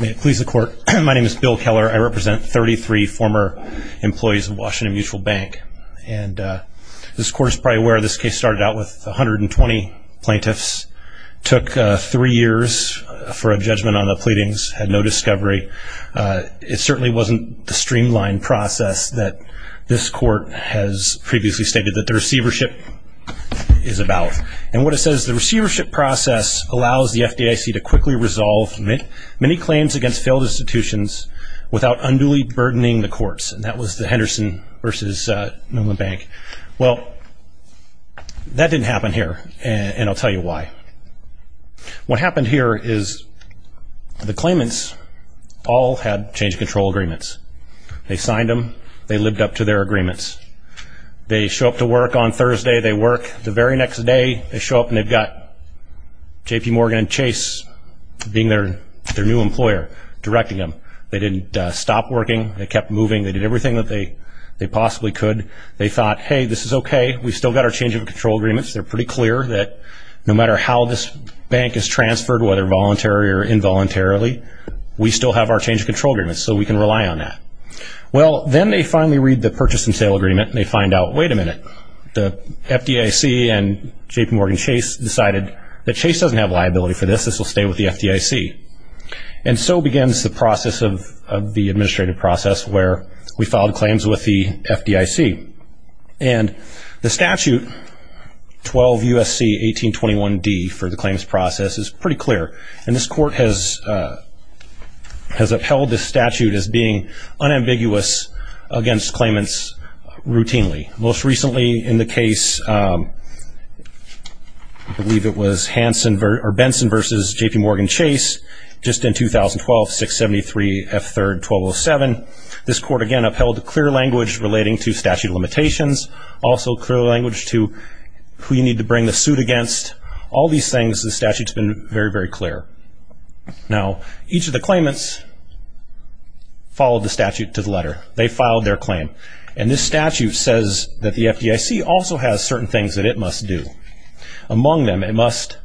May it please the court my name is Bill Keller I represent 33 former employees of Washington Mutual Bank and this court is probably aware this case started out with 120 plaintiffs took three years for a judgment on the pleadings had no discovery it certainly wasn't the streamlined process that this court has previously stated that the receivership is about and what it says the resolve many claims against failed institutions without unduly burdening the courts and that was the Henderson vs. Newman Bank well that didn't happen here and I'll tell you why what happened here is the claimants all had change control agreements they signed them they lived up to their agreements they show up to work on Thursday they work the very next day they show up and they've JP Morgan Chase being their their new employer directing them they didn't stop working they kept moving they did everything that they they possibly could they thought hey this is okay we still got our change of control agreements they're pretty clear that no matter how this bank is transferred whether voluntary or involuntarily we still have our change of control agreements so we can rely on that well then they finally read the purchase and sale agreement they find out wait a minute the FDIC and JP Morgan Chase decided that Chase doesn't have liability for this this will stay with the FDIC and so begins the process of the administrative process where we followed claims with the FDIC and the statute 12 USC 1821 D for the claims process is pretty clear and this court has has upheld this statute as being unambiguous against claimants routinely most recently in the case I believe it was Hanson or Benson versus JP Morgan Chase just in 2012 673 f3rd 1207 this court again upheld the clear language relating to statute of limitations also clear language to who you need to bring the suit against all these things the statutes been very very clear now each of the claimants followed the statute to the letter they filed their claim and this statute says that the FDIC also has certain things that it must do among them it must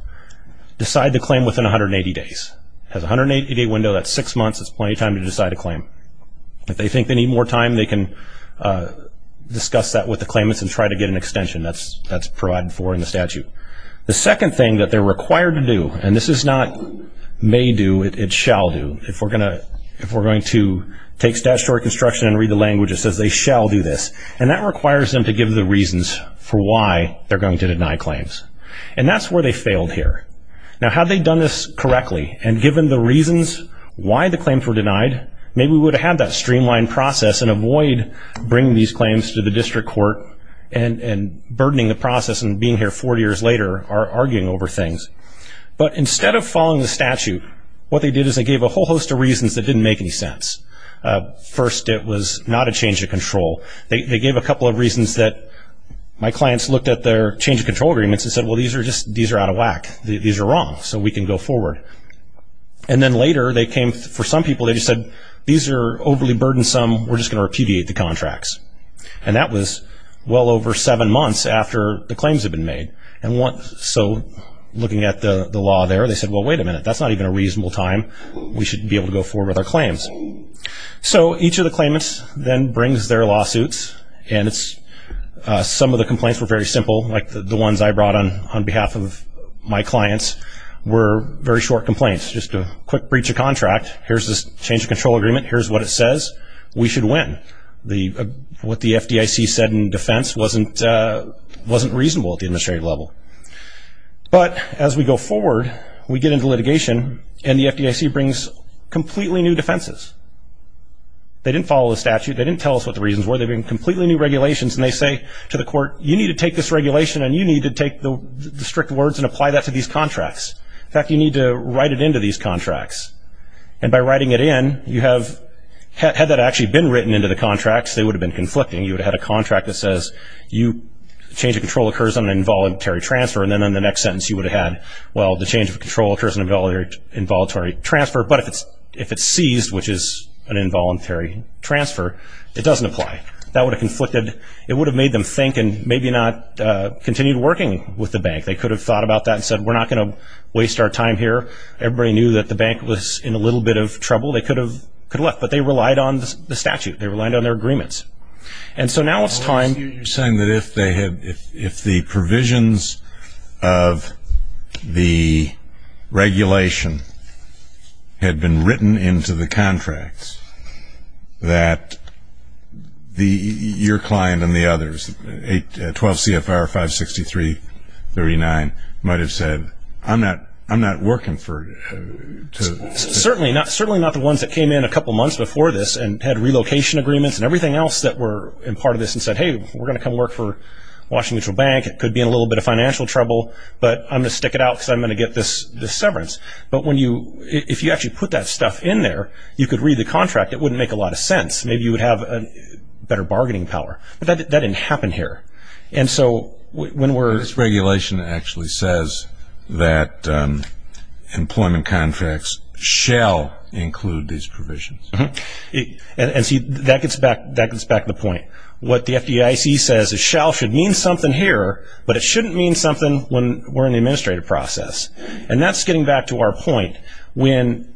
decide the claim within 180 days has 180 day window that's six months it's plenty time to decide a claim if they think they need more time they can discuss that with the claimants and try to get an extension that's that's provided for in the statute the second thing that they're required to do and this is not may do it it shall do if we're gonna if we're going to take statutory construction and read the language it says they shall do this and that requires them to give the reasons for why they're going to deny claims and that's where they failed here now have they done this correctly and given the reasons why the claims were denied maybe we would have that streamlined process and avoid bringing these claims to the district court and and burdening the process and being here four years later are arguing over things but instead of following the statute what they did is they gave a whole host of reasons that didn't make any sense first it was not a change of control they gave a couple of reasons that my clients looked at their change of control agreements and said well these are just these are out of whack these are wrong so we can go forward and then later they came for some people they just said these are overly burdensome we're just gonna repudiate the contracts and that was well over seven months after the claims have been made and once so looking at the the law there they said well wait a reasonable time we should be able to go forward with our claims so each of the claimants then brings their lawsuits and it's some of the complaints were very simple like the ones I brought on on behalf of my clients were very short complaints just a quick breach of contract here's this change of control agreement here's what it says we should win the what the FDIC said in defense wasn't wasn't reasonable at the administrative level but as we go we get into litigation and the FDIC brings completely new defenses they didn't follow the statute they didn't tell us what the reasons were they've been completely new regulations and they say to the court you need to take this regulation and you need to take the strict words and apply that to these contracts in fact you need to write it into these contracts and by writing it in you have had that actually been written into the contracts they would have been conflicting you would have had a contract that says you change of control occurs on an involuntary transfer and then on the next sentence you would have had well the change of control occurs in a military involuntary transfer but if it's if it's seized which is an involuntary transfer it doesn't apply that would have conflicted it would have made them think and maybe not continued working with the bank they could have thought about that and said we're not gonna waste our time here everybody knew that the bank was in a little bit of trouble they could have could left but they relied on the statute they relied on their agreements and so now it's time you're saying that if they if the provisions of the regulation had been written into the contracts that the your client and the others a 12 CFR 563 39 might have said I'm not I'm not working for certainly not certainly not the ones that came in a couple months before this and had relocation agreements and everything else that were in part of this and said hey we're gonna come work for Washington Bank it could be a little bit of financial trouble but I'm gonna stick it out something to get this the severance but when you if you actually put that stuff in there you could read the contract it wouldn't make a lot of sense maybe you would have a better bargaining power that didn't happen here and so when we're this regulation actually says that employment contracts shall include these provisions and see that gets back that gets back the point what the FDIC says a shell should mean something here but it shouldn't mean something when we're in the administrative process and that's getting back to our point when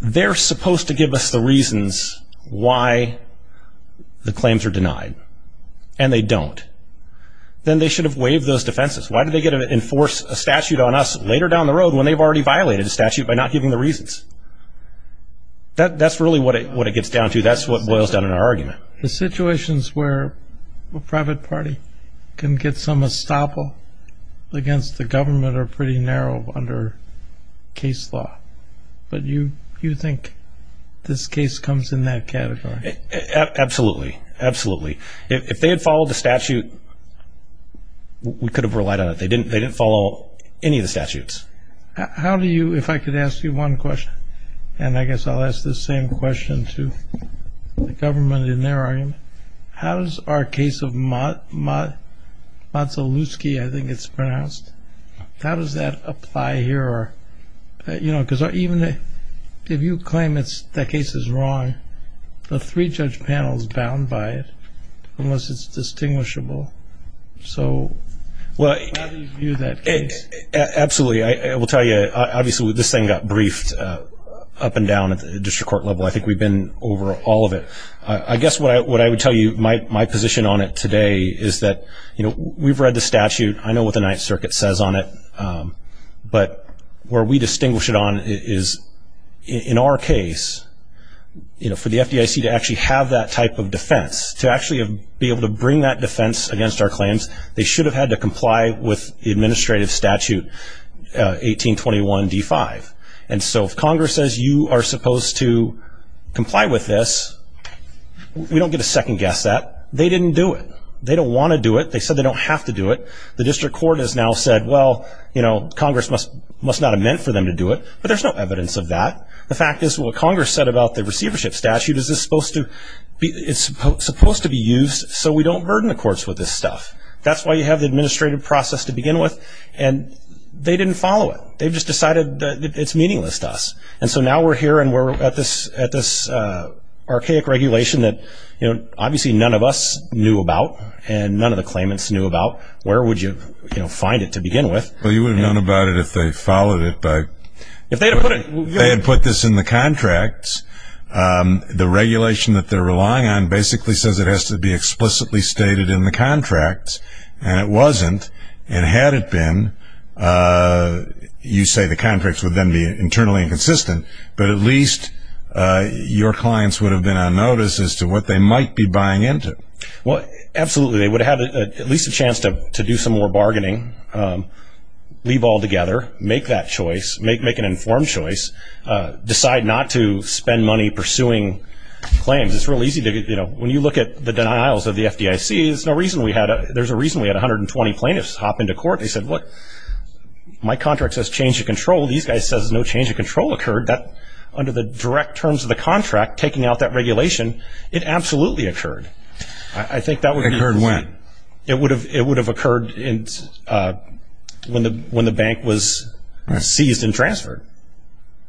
they're supposed to give us the reasons why the claims are denied and they don't then they should have waived those defenses why did they get an enforce a statute on us later down the road when they've already violated a statute by not giving the reasons that that's really what it what it gets down to that's what boils down in our argument the situations where a private party can get some estoppel against the government are pretty narrow under case law but you you think this case comes in that category absolutely absolutely if they had followed the statute we could have relied on it they didn't they didn't follow any of the statutes how do you if I could ask you one question and I guess I'll ask the same question to the government in there are you how does our case of mud mud lots of loose key I think it's pronounced how does that apply here or you know because I even if you claim it's the case is wrong the three judge panels bound by it unless it's distinguishable so well you that absolutely I will tell you obviously this thing got briefed up and down at the district court level I think we've been over all of it I guess what I would tell you my position on it today is that you know we've read the statute I know what the Ninth Circuit says on it but where we distinguish it on is in our case you know for the FDIC to actually have that type of defense to actually be able to bring that defense against our claims they should have had to comply with the administrative statute 1821 d5 and so if Congress says you are supposed to comply with this we don't get a second guess that they didn't do it they don't want to do it they said they don't have to do it the district court has now said well you know Congress must must not have meant for them to do it but there's no evidence of that the fact is what Congress said about the receivership statute is this supposed to be it's supposed to be used so we don't burden the courts with this stuff that's why you have the administrative process to begin with and they didn't follow it they've just decided that it's meaningless to us and so now we're here and we're at this at this archaic regulation that you know obviously none of us knew about and none of the claimants knew about where would you you know find it to begin with well you would have known about it if they followed it but if they had put it they had put this in the contracts the regulation that they're relying on basically says it has to be explicitly stated in the contracts and it wasn't and had it been you say the contracts would then be internally inconsistent but at least your clients would have been on notice as to what they might be buying into what absolutely they would have at least a chance to do some more bargaining leave all together make that choice make make an informed choice decide not to spend money pursuing claims it's real easy to get you know when you look at the denials of the FDIC is no reason we had a there's a reason we had 120 plaintiffs hop into court they said what my contract says change of control these guys says no change of control occurred that under the direct terms of the contract taking out that regulation it absolutely occurred I think that would occur when it would have it would have occurred in when the when the bank was seized and transferred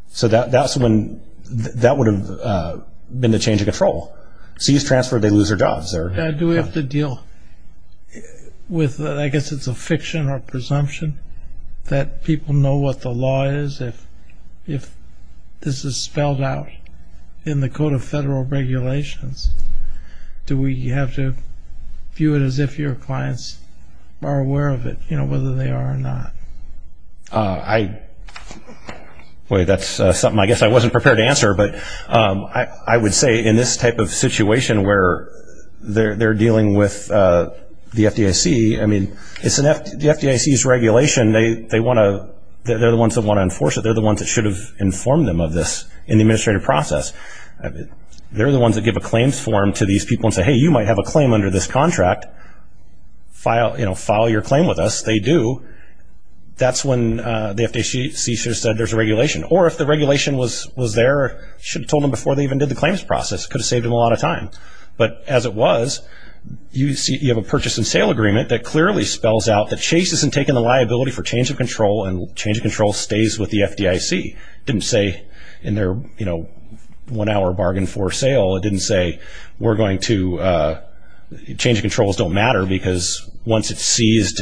so that that's when that would have been the change of control cease-transfer they lose their jobs there do we have to deal with I guess it's a fiction or presumption that people know what the law is if if this is spelled out in the code of federal regulations do we have to view it as if your clients are aware of it you know whether they are not I wait that's something I guess I wasn't prepared to answer but I would say in this type of situation where they're dealing with the FDIC I mean it's an F the FDIC is regulation they they want to they're the ones that want to enforce it they're the ones that should have informed them of this in the administrative process I mean they're the ones that give a claims form to these people and say hey you might have a claim under this contract file you your claim with us they do that's when the FDIC should have said there's a regulation or if the regulation was was there should have told them before they even did the claims process could have saved him a lot of time but as it was you see you have a purchase and sale agreement that clearly spells out that Chase isn't taking the liability for change of control and change of control stays with the FDIC didn't say in their you know one hour bargain for sale it didn't say we're going to change of controls don't matter because once it's seized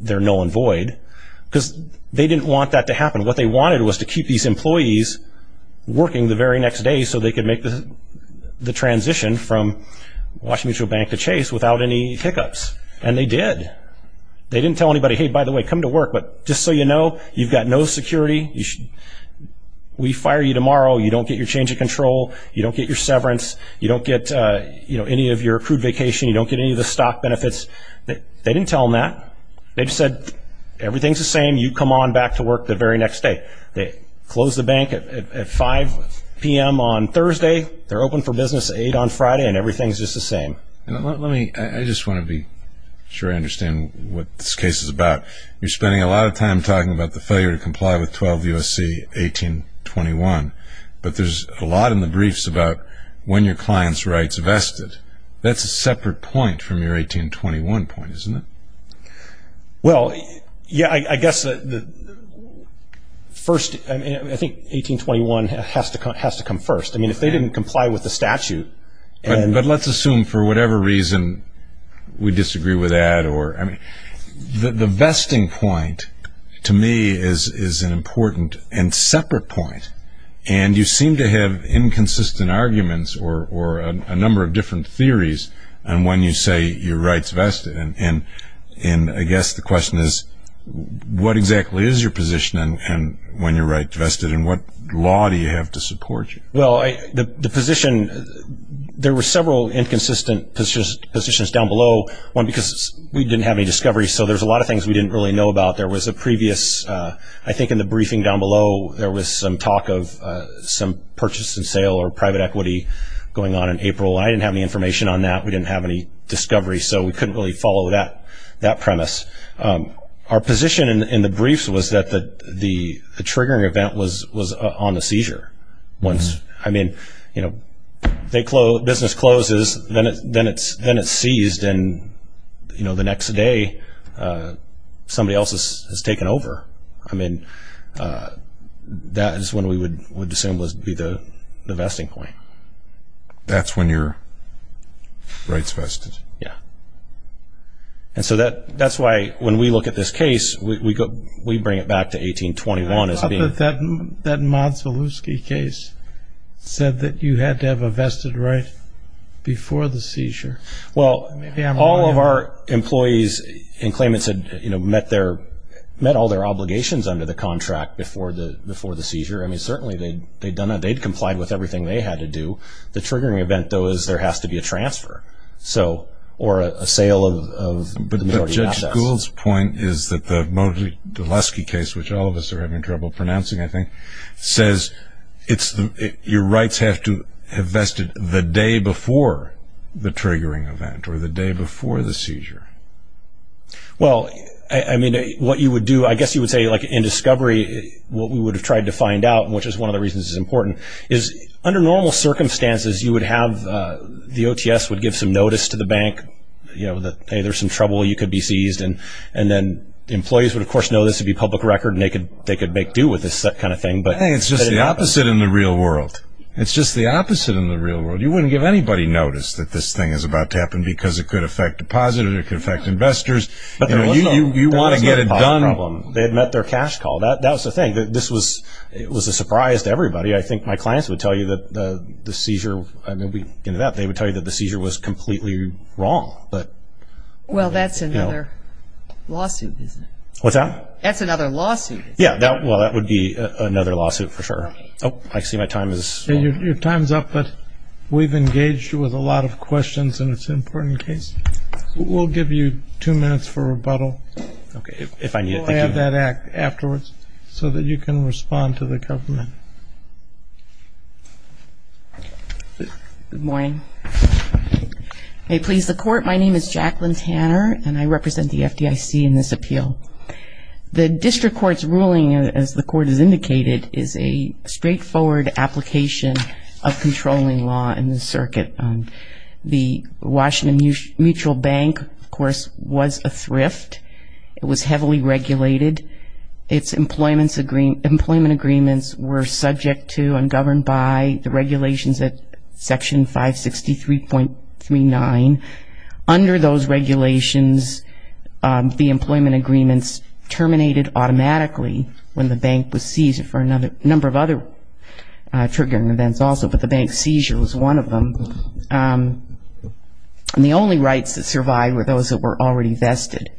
they're null and void because they didn't want that to happen what they wanted was to keep these employees working the very next day so they could make the transition from Washington Bank to Chase without any hiccups and they did they didn't tell anybody hey by the way come to work but just so you know you've got no security you should we fire you tomorrow you don't get your change of control you don't get your severance you don't get you know any of your accrued vacation you don't get any of the stock benefits that they didn't tell them that they've said everything's the same you come on back to work the very next day they close the bank at 5 p.m. on Thursday they're open for business 8 on Friday and everything's just the same let me I just want to be sure I understand what this case is about you're spending a lot of time talking about the failure to comply with 12 USC 1821 but there's a lot in the briefs about when your clients rights vested that's a separate point from your 1821 point isn't it well yeah I guess the first I think 1821 has to come has to come first I mean if they didn't comply with the statute and but let's assume for whatever reason we disagree with that or I mean the the point to me is is an important and separate point and you seem to have inconsistent arguments or a number of different theories and when you say your rights vested and in I guess the question is what exactly is your position and when you're right vested in what law do you have to support you well I the position there were several inconsistent positions down below one because we didn't have any discovery so there's a lot of things we didn't really know about there was a previous I think in the briefing down below there was some talk of some purchase and sale or private equity going on in April I didn't have any information on that we didn't have any discovery so we couldn't really follow that that premise our position in the briefs was that the the triggering event was was on the seizure once I mean you know they closed business then it's then it's seized and you know the next day somebody else's has taken over I mean that is when we would would assume was be the the vesting point that's when your rights vested yeah and so that that's why when we look at this case we go we bring it back to 1821 is being that that Mods Voluski case said that you had to have a vested right before the seizure well maybe I'm all of our employees in claimants had you know met their met all their obligations under the contract before the before the seizure I mean certainly they'd they'd done it they'd complied with everything they had to do the triggering event though is there has to be a transfer so or a sale of schools point is that the Mods Voluski case which all of us are having trouble pronouncing I think says it's your rights have to have vested the day before the triggering event or the day before the seizure well I mean what you would do I guess you would say like in discovery what we would have tried to find out which is one of the reasons is important is under normal circumstances you would have the OTS would give some notice to the bank you know that hey there's some trouble you could be seized and and then the employees would of course know this would be public record naked they could make do with this that kind of thing but it's just the opposite in the real world it's just the opposite in the real world you wouldn't give anybody notice that this thing is about to happen because it could affect depositors it could affect investors but you you want to get it done problem they had met their cash call that that was the thing that this was it was a surprise to everybody I think my clients would tell you that the seizure maybe into that they would tell you that the seizure was completely wrong but well that's another lawsuit what's up that's another lawsuit yeah that well that would be another lawsuit for sure oh I see my time is your time's up but we've engaged with a lot of questions and it's important case we'll give you two minutes for rebuttal okay if I need that act afterwards so that you can respond to the government good morning may please the court my name is Jacqueline Tanner and I represent the FDIC in this appeal the district courts ruling as the court is indicated is a straightforward application of controlling law in the circuit the Washington Mutual Bank of course was a thrift it was heavily regulated its employments agreement employment agreements were subject to and governed by the regulations that section 563.39 under those regulations the employment agreements terminated automatically when the bank was seized for another number of other triggering events also but the bank seizure was one of them and the only rights that survived were those that were already vested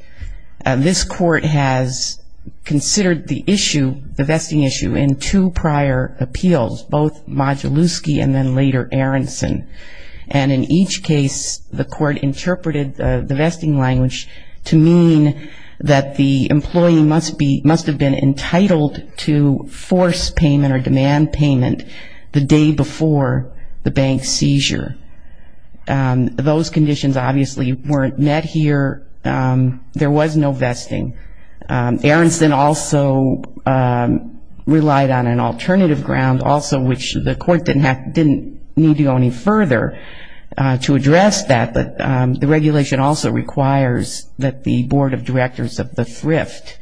this court has considered the issue the vesting issue in two prior appeals both Modulowski and then later Aronson and in each case the court interpreted the vesting language to mean that the employee must be must have been entitled to force payment or demand payment the day before the bank seizure those conditions obviously weren't met here there was no vesting Aronson also relied on an alternative ground also which the court didn't have didn't need to go any further to address that but the regulation also requires that the Board of Directors of the thrift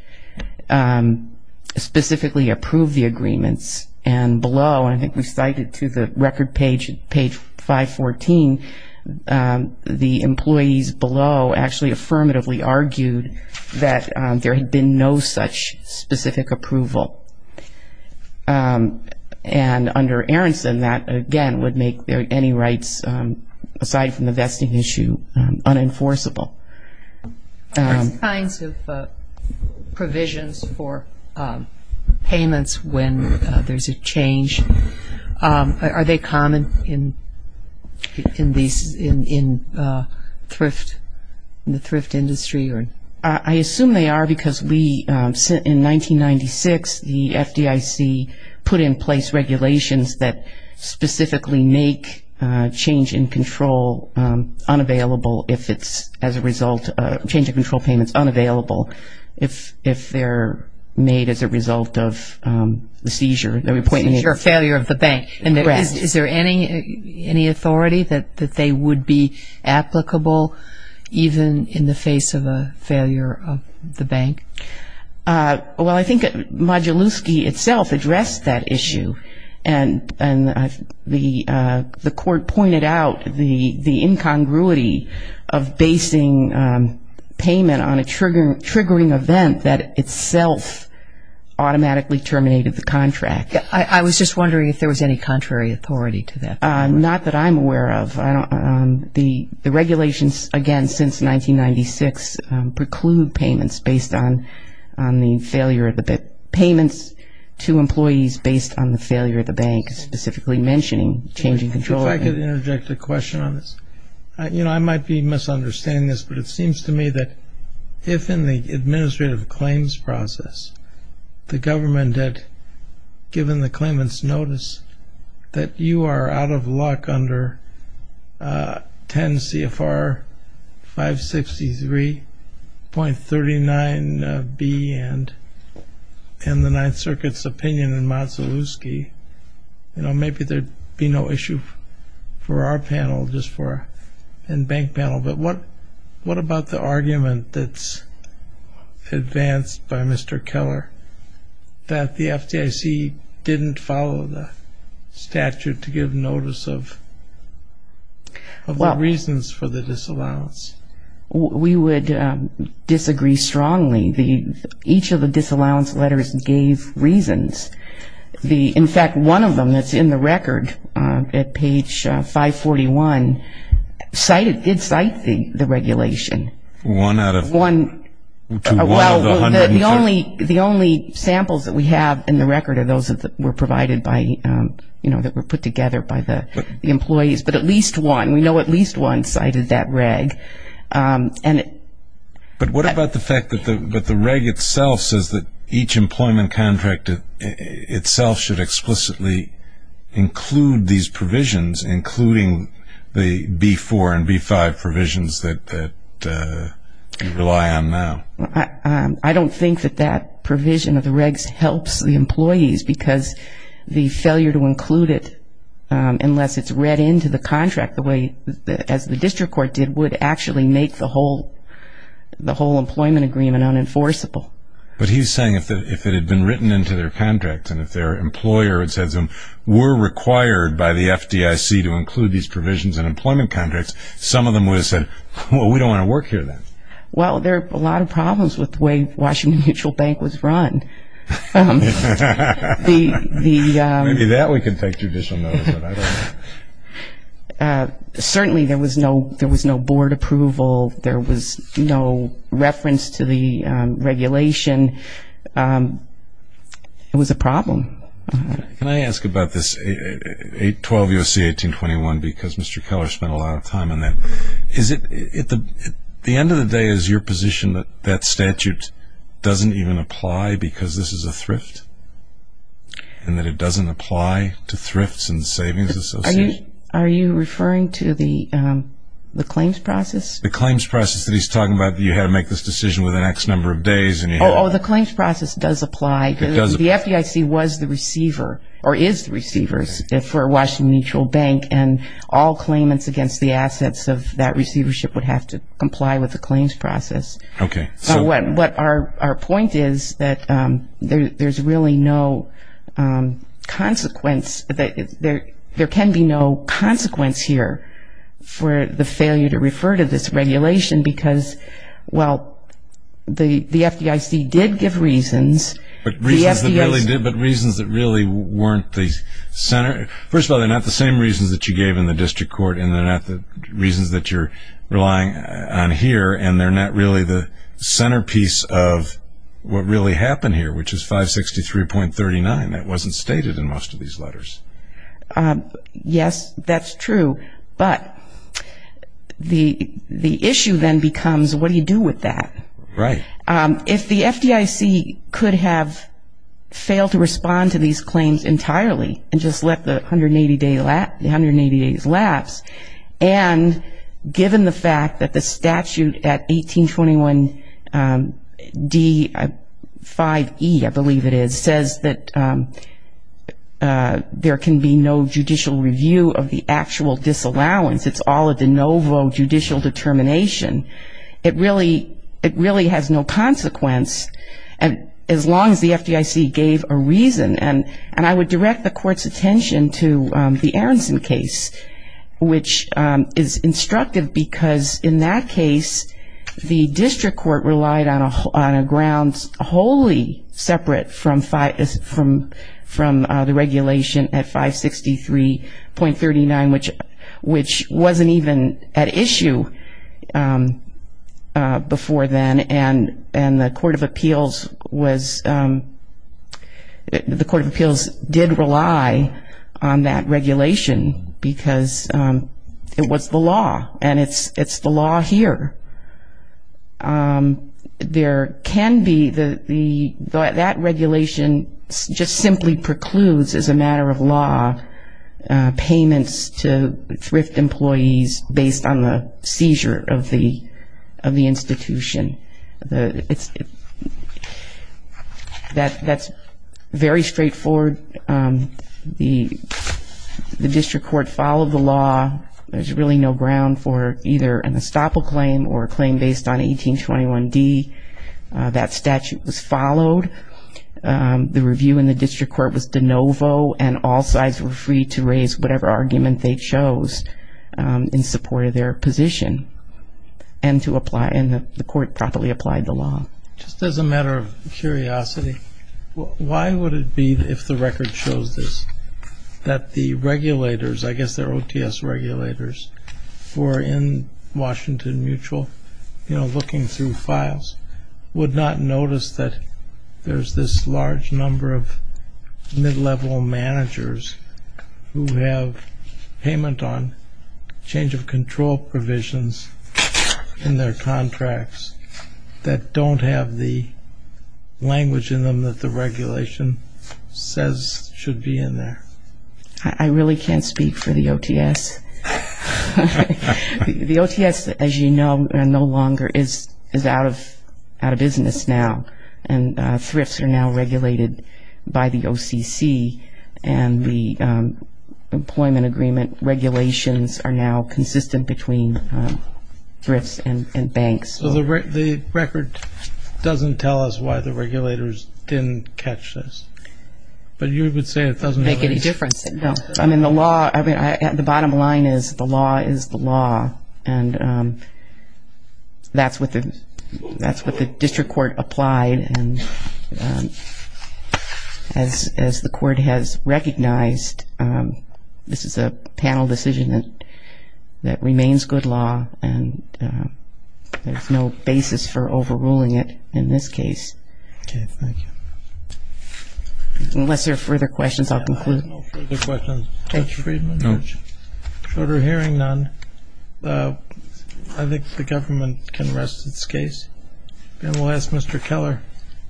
specifically approved the agreements and below and I think we cited to the record page page 514 the employees below actually affirmatively argued that there had been no such specific approval and under Aronson that again would make there any rights aside from the vesting issue unenforceable kinds of provisions for payments when there's a change are they common in in these in thrift in the thrift industry or I assume they are because we sit in 1996 the FDIC put in place regulations that specifically make change in control unavailable if it's as a result of change of control payments unavailable if if they're made as a result of the seizure the appointment your failure of the bank and the rest is there any any authority that that they would be applicable even in the face of a failure of the bank well I think Modulowski itself addressed that issue and and the the court pointed out the the incongruity of basing payment on a trigger triggering event that itself automatically terminated the contract I was just wondering if there was any contrary authority to that not that I'm aware of I don't the the regulations again since 1996 preclude payments based on on the failure of the bit payments to employees based on the failure of the bank specifically mentioning changing control I could interject a question on this you know I might be misunderstanding this but it seems to me that if in the administrative claims process the government had given the claimants notice that you are out of luck under 10 CFR 563.39 B and in the Ninth Circuit's opinion in Modulowski you know maybe there'd be no issue for our panel just for in bank panel but what what about the argument that's advanced by Mr. Keller that the FDIC didn't follow the statute to give notice of well reasons for the disallowance we would disagree strongly the each of the disallowance letters gave reasons the in fact one of them that's in the record at page 541 cited did cite the the regulation one out of one the only the only samples that we have in the record of those that were provided by you know that were put together by the employees but at least one we know at least one cited that reg and but what about the fact that the but the reg itself says that each employment contract itself should explicitly include these provisions including the b4 and b5 provisions that rely on now I don't think that that provision of the regs helps the employees because the failure to include it unless it's read into the contract the way that as the district court did would actually make the whole the whole employment agreement unenforceable but he's saying if it had been written into their contract and if employer it says them were required by the FDIC to include these provisions in employment contracts some of them would have said well we don't want to work here then well there are a lot of problems with the way Washington mutual bank was run the that we can take judicial notice certainly there was no there was no board approval there was no reference to the regulation it was a can I ask about this 812 you'll see 1821 because mr. Keller spent a lot of time on that is it at the end of the day is your position that that statute doesn't even apply because this is a thrift and that it doesn't apply to thrifts and savings are you referring to the the claims process the claims process that he's talking about you had to make this decision with the next number of days and you know the claims process does apply because the FDIC was the receiver or is the receivers for Washington mutual bank and all claimants against the assets of that receivership would have to comply with the claims process okay so what what our point is that there's really no consequence that there there can be no consequence here for the failure to refer to this really weren't these Center first of all they're not the same reasons that you gave in the district court and they're not the reasons that you're relying on here and they're not really the centerpiece of what really happened here which is 563 point 39 that wasn't stated in most of these letters yes that's true but the the issue then becomes what do you do with that right if the FDIC could have failed to respond to these claims entirely and just let the 180 day lap the 180 days laps and given the fact that the statute at 1821 d5e I believe it is says that there can be no judicial review of the actual disallowance it's all a de novo judicial determination it really it there's no consequence and as long as the FDIC gave a reason and and I would direct the court's attention to the Aronson case which is instructive because in that case the district court relied on a on a grounds wholly separate from five is from from the regulation at 563 point 39 which which wasn't even at issue before then and and the Court of Appeals was the Court of Appeals did rely on that regulation because it was the law and it's it's the law here there can be the the that regulation just simply precludes as a matter of law payments to thrift employees based on the seizure of the of the institution it's that that's very straightforward the the district court followed the law there's really no ground for either an estoppel claim or claim based on 1821 D that statute was followed the review in the district court was de novo and all sides were free to raise whatever argument they chose in support of their position and to apply in the court properly applied the law just as a matter of curiosity why would it be if the record shows this that the regulators I guess their OTS regulators were in Washington Mutual you know looking through files would not notice that there's this large number of level managers who have payment on change of control provisions in their contracts that don't have the language in them that the regulation says should be in there I really can't speak for the OTS the OTS as you know and no longer is out of out of business now and thrifts are now regulated by the OCC and the employment agreement regulations are now consistent between thrifts and banks so the record doesn't tell us why the regulators didn't catch this but you would say it doesn't make any difference I mean the law I mean the bottom line is the law is the law and that's what the that's what the district court applied and as as the court has recognized this is a panel decision that that remains good law and there's no basis for overruling it in this case unless there are further questions I'll conclude no further hearing none I think the government can rest its case and we'll ask mr. Keller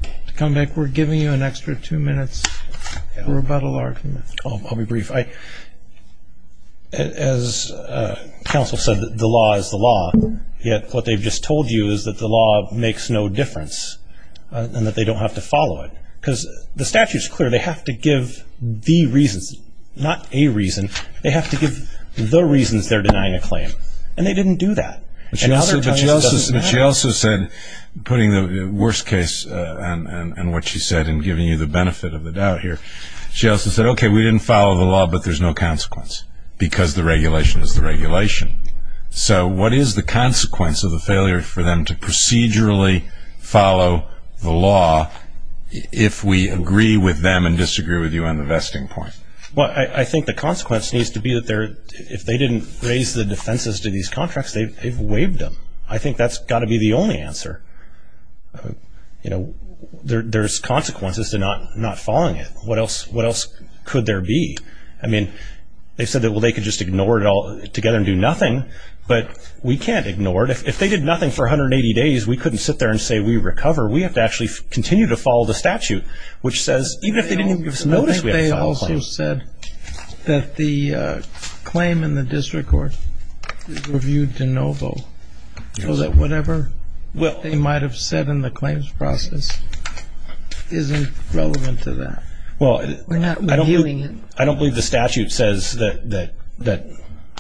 to come back we're giving you an extra two minutes we're about a large I'll be brief I as counsel said that the law is the law yet what they've just told you is that the law makes no difference and that they don't have to follow it because the statute is clear they have to give the reasons not a reason they have to give the reasons they're denying a claim and they didn't do that but she also said putting the worst case and what she said and giving you the benefit of the doubt here she also said okay we didn't follow the law but there's no consequence because the regulation is the regulation so what is the consequence of the failure for them to procedurally follow the law if we agree with them and disagree with you on the vesting point well I think the consequence needs to be that there if they didn't raise the defenses to these contracts they've waived them I think that's got to be the only answer you know there's consequences to not not following it what else what else could there be I mean they said that well they could just ignore it all together and do nothing but we can't ignore it if they did nothing for 180 days we couldn't sit there and say we recover we have to actually continue to follow the statute which says even if they didn't notice they also said that the claim in the district court reviewed to Novo so that whatever well they might have said in the claims process isn't relevant to that well I don't believe the statute says that that that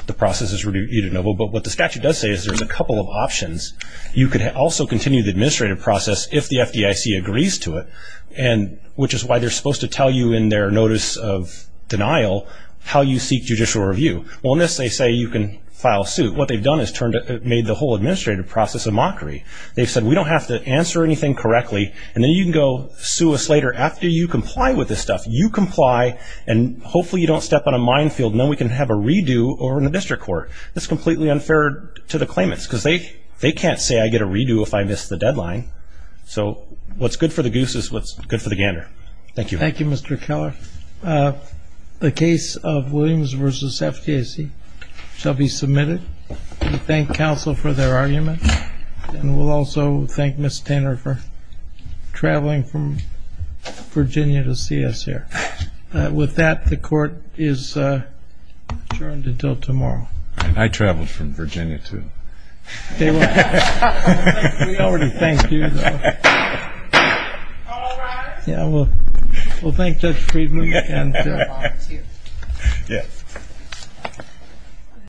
the process is but what the statute does say is there's a couple of options you could also continue the administrative process if the FDIC agrees to it and which is why they're supposed to tell you in their notice of denial how you seek judicial review well unless they say you can file suit what they've done is turned it made the whole administrative process a mockery they've said we don't have to answer anything correctly and then you can go sue us later after you comply with this stuff you comply and hopefully you don't step on a minefield no we can have a redo or in the district court that's completely unfair to the claimants because they they can't say I get a redo if I miss the deadline so what's good for the goose is what's good for the gander thank you thank you mr. Keller the case of Williams versus FTC shall be submitted thank counsel for their argument and we'll also thank miss Tanner for traveling from Virginia to until tomorrow I traveled from Virginia to thank you yeah well we'll thank judge Friedman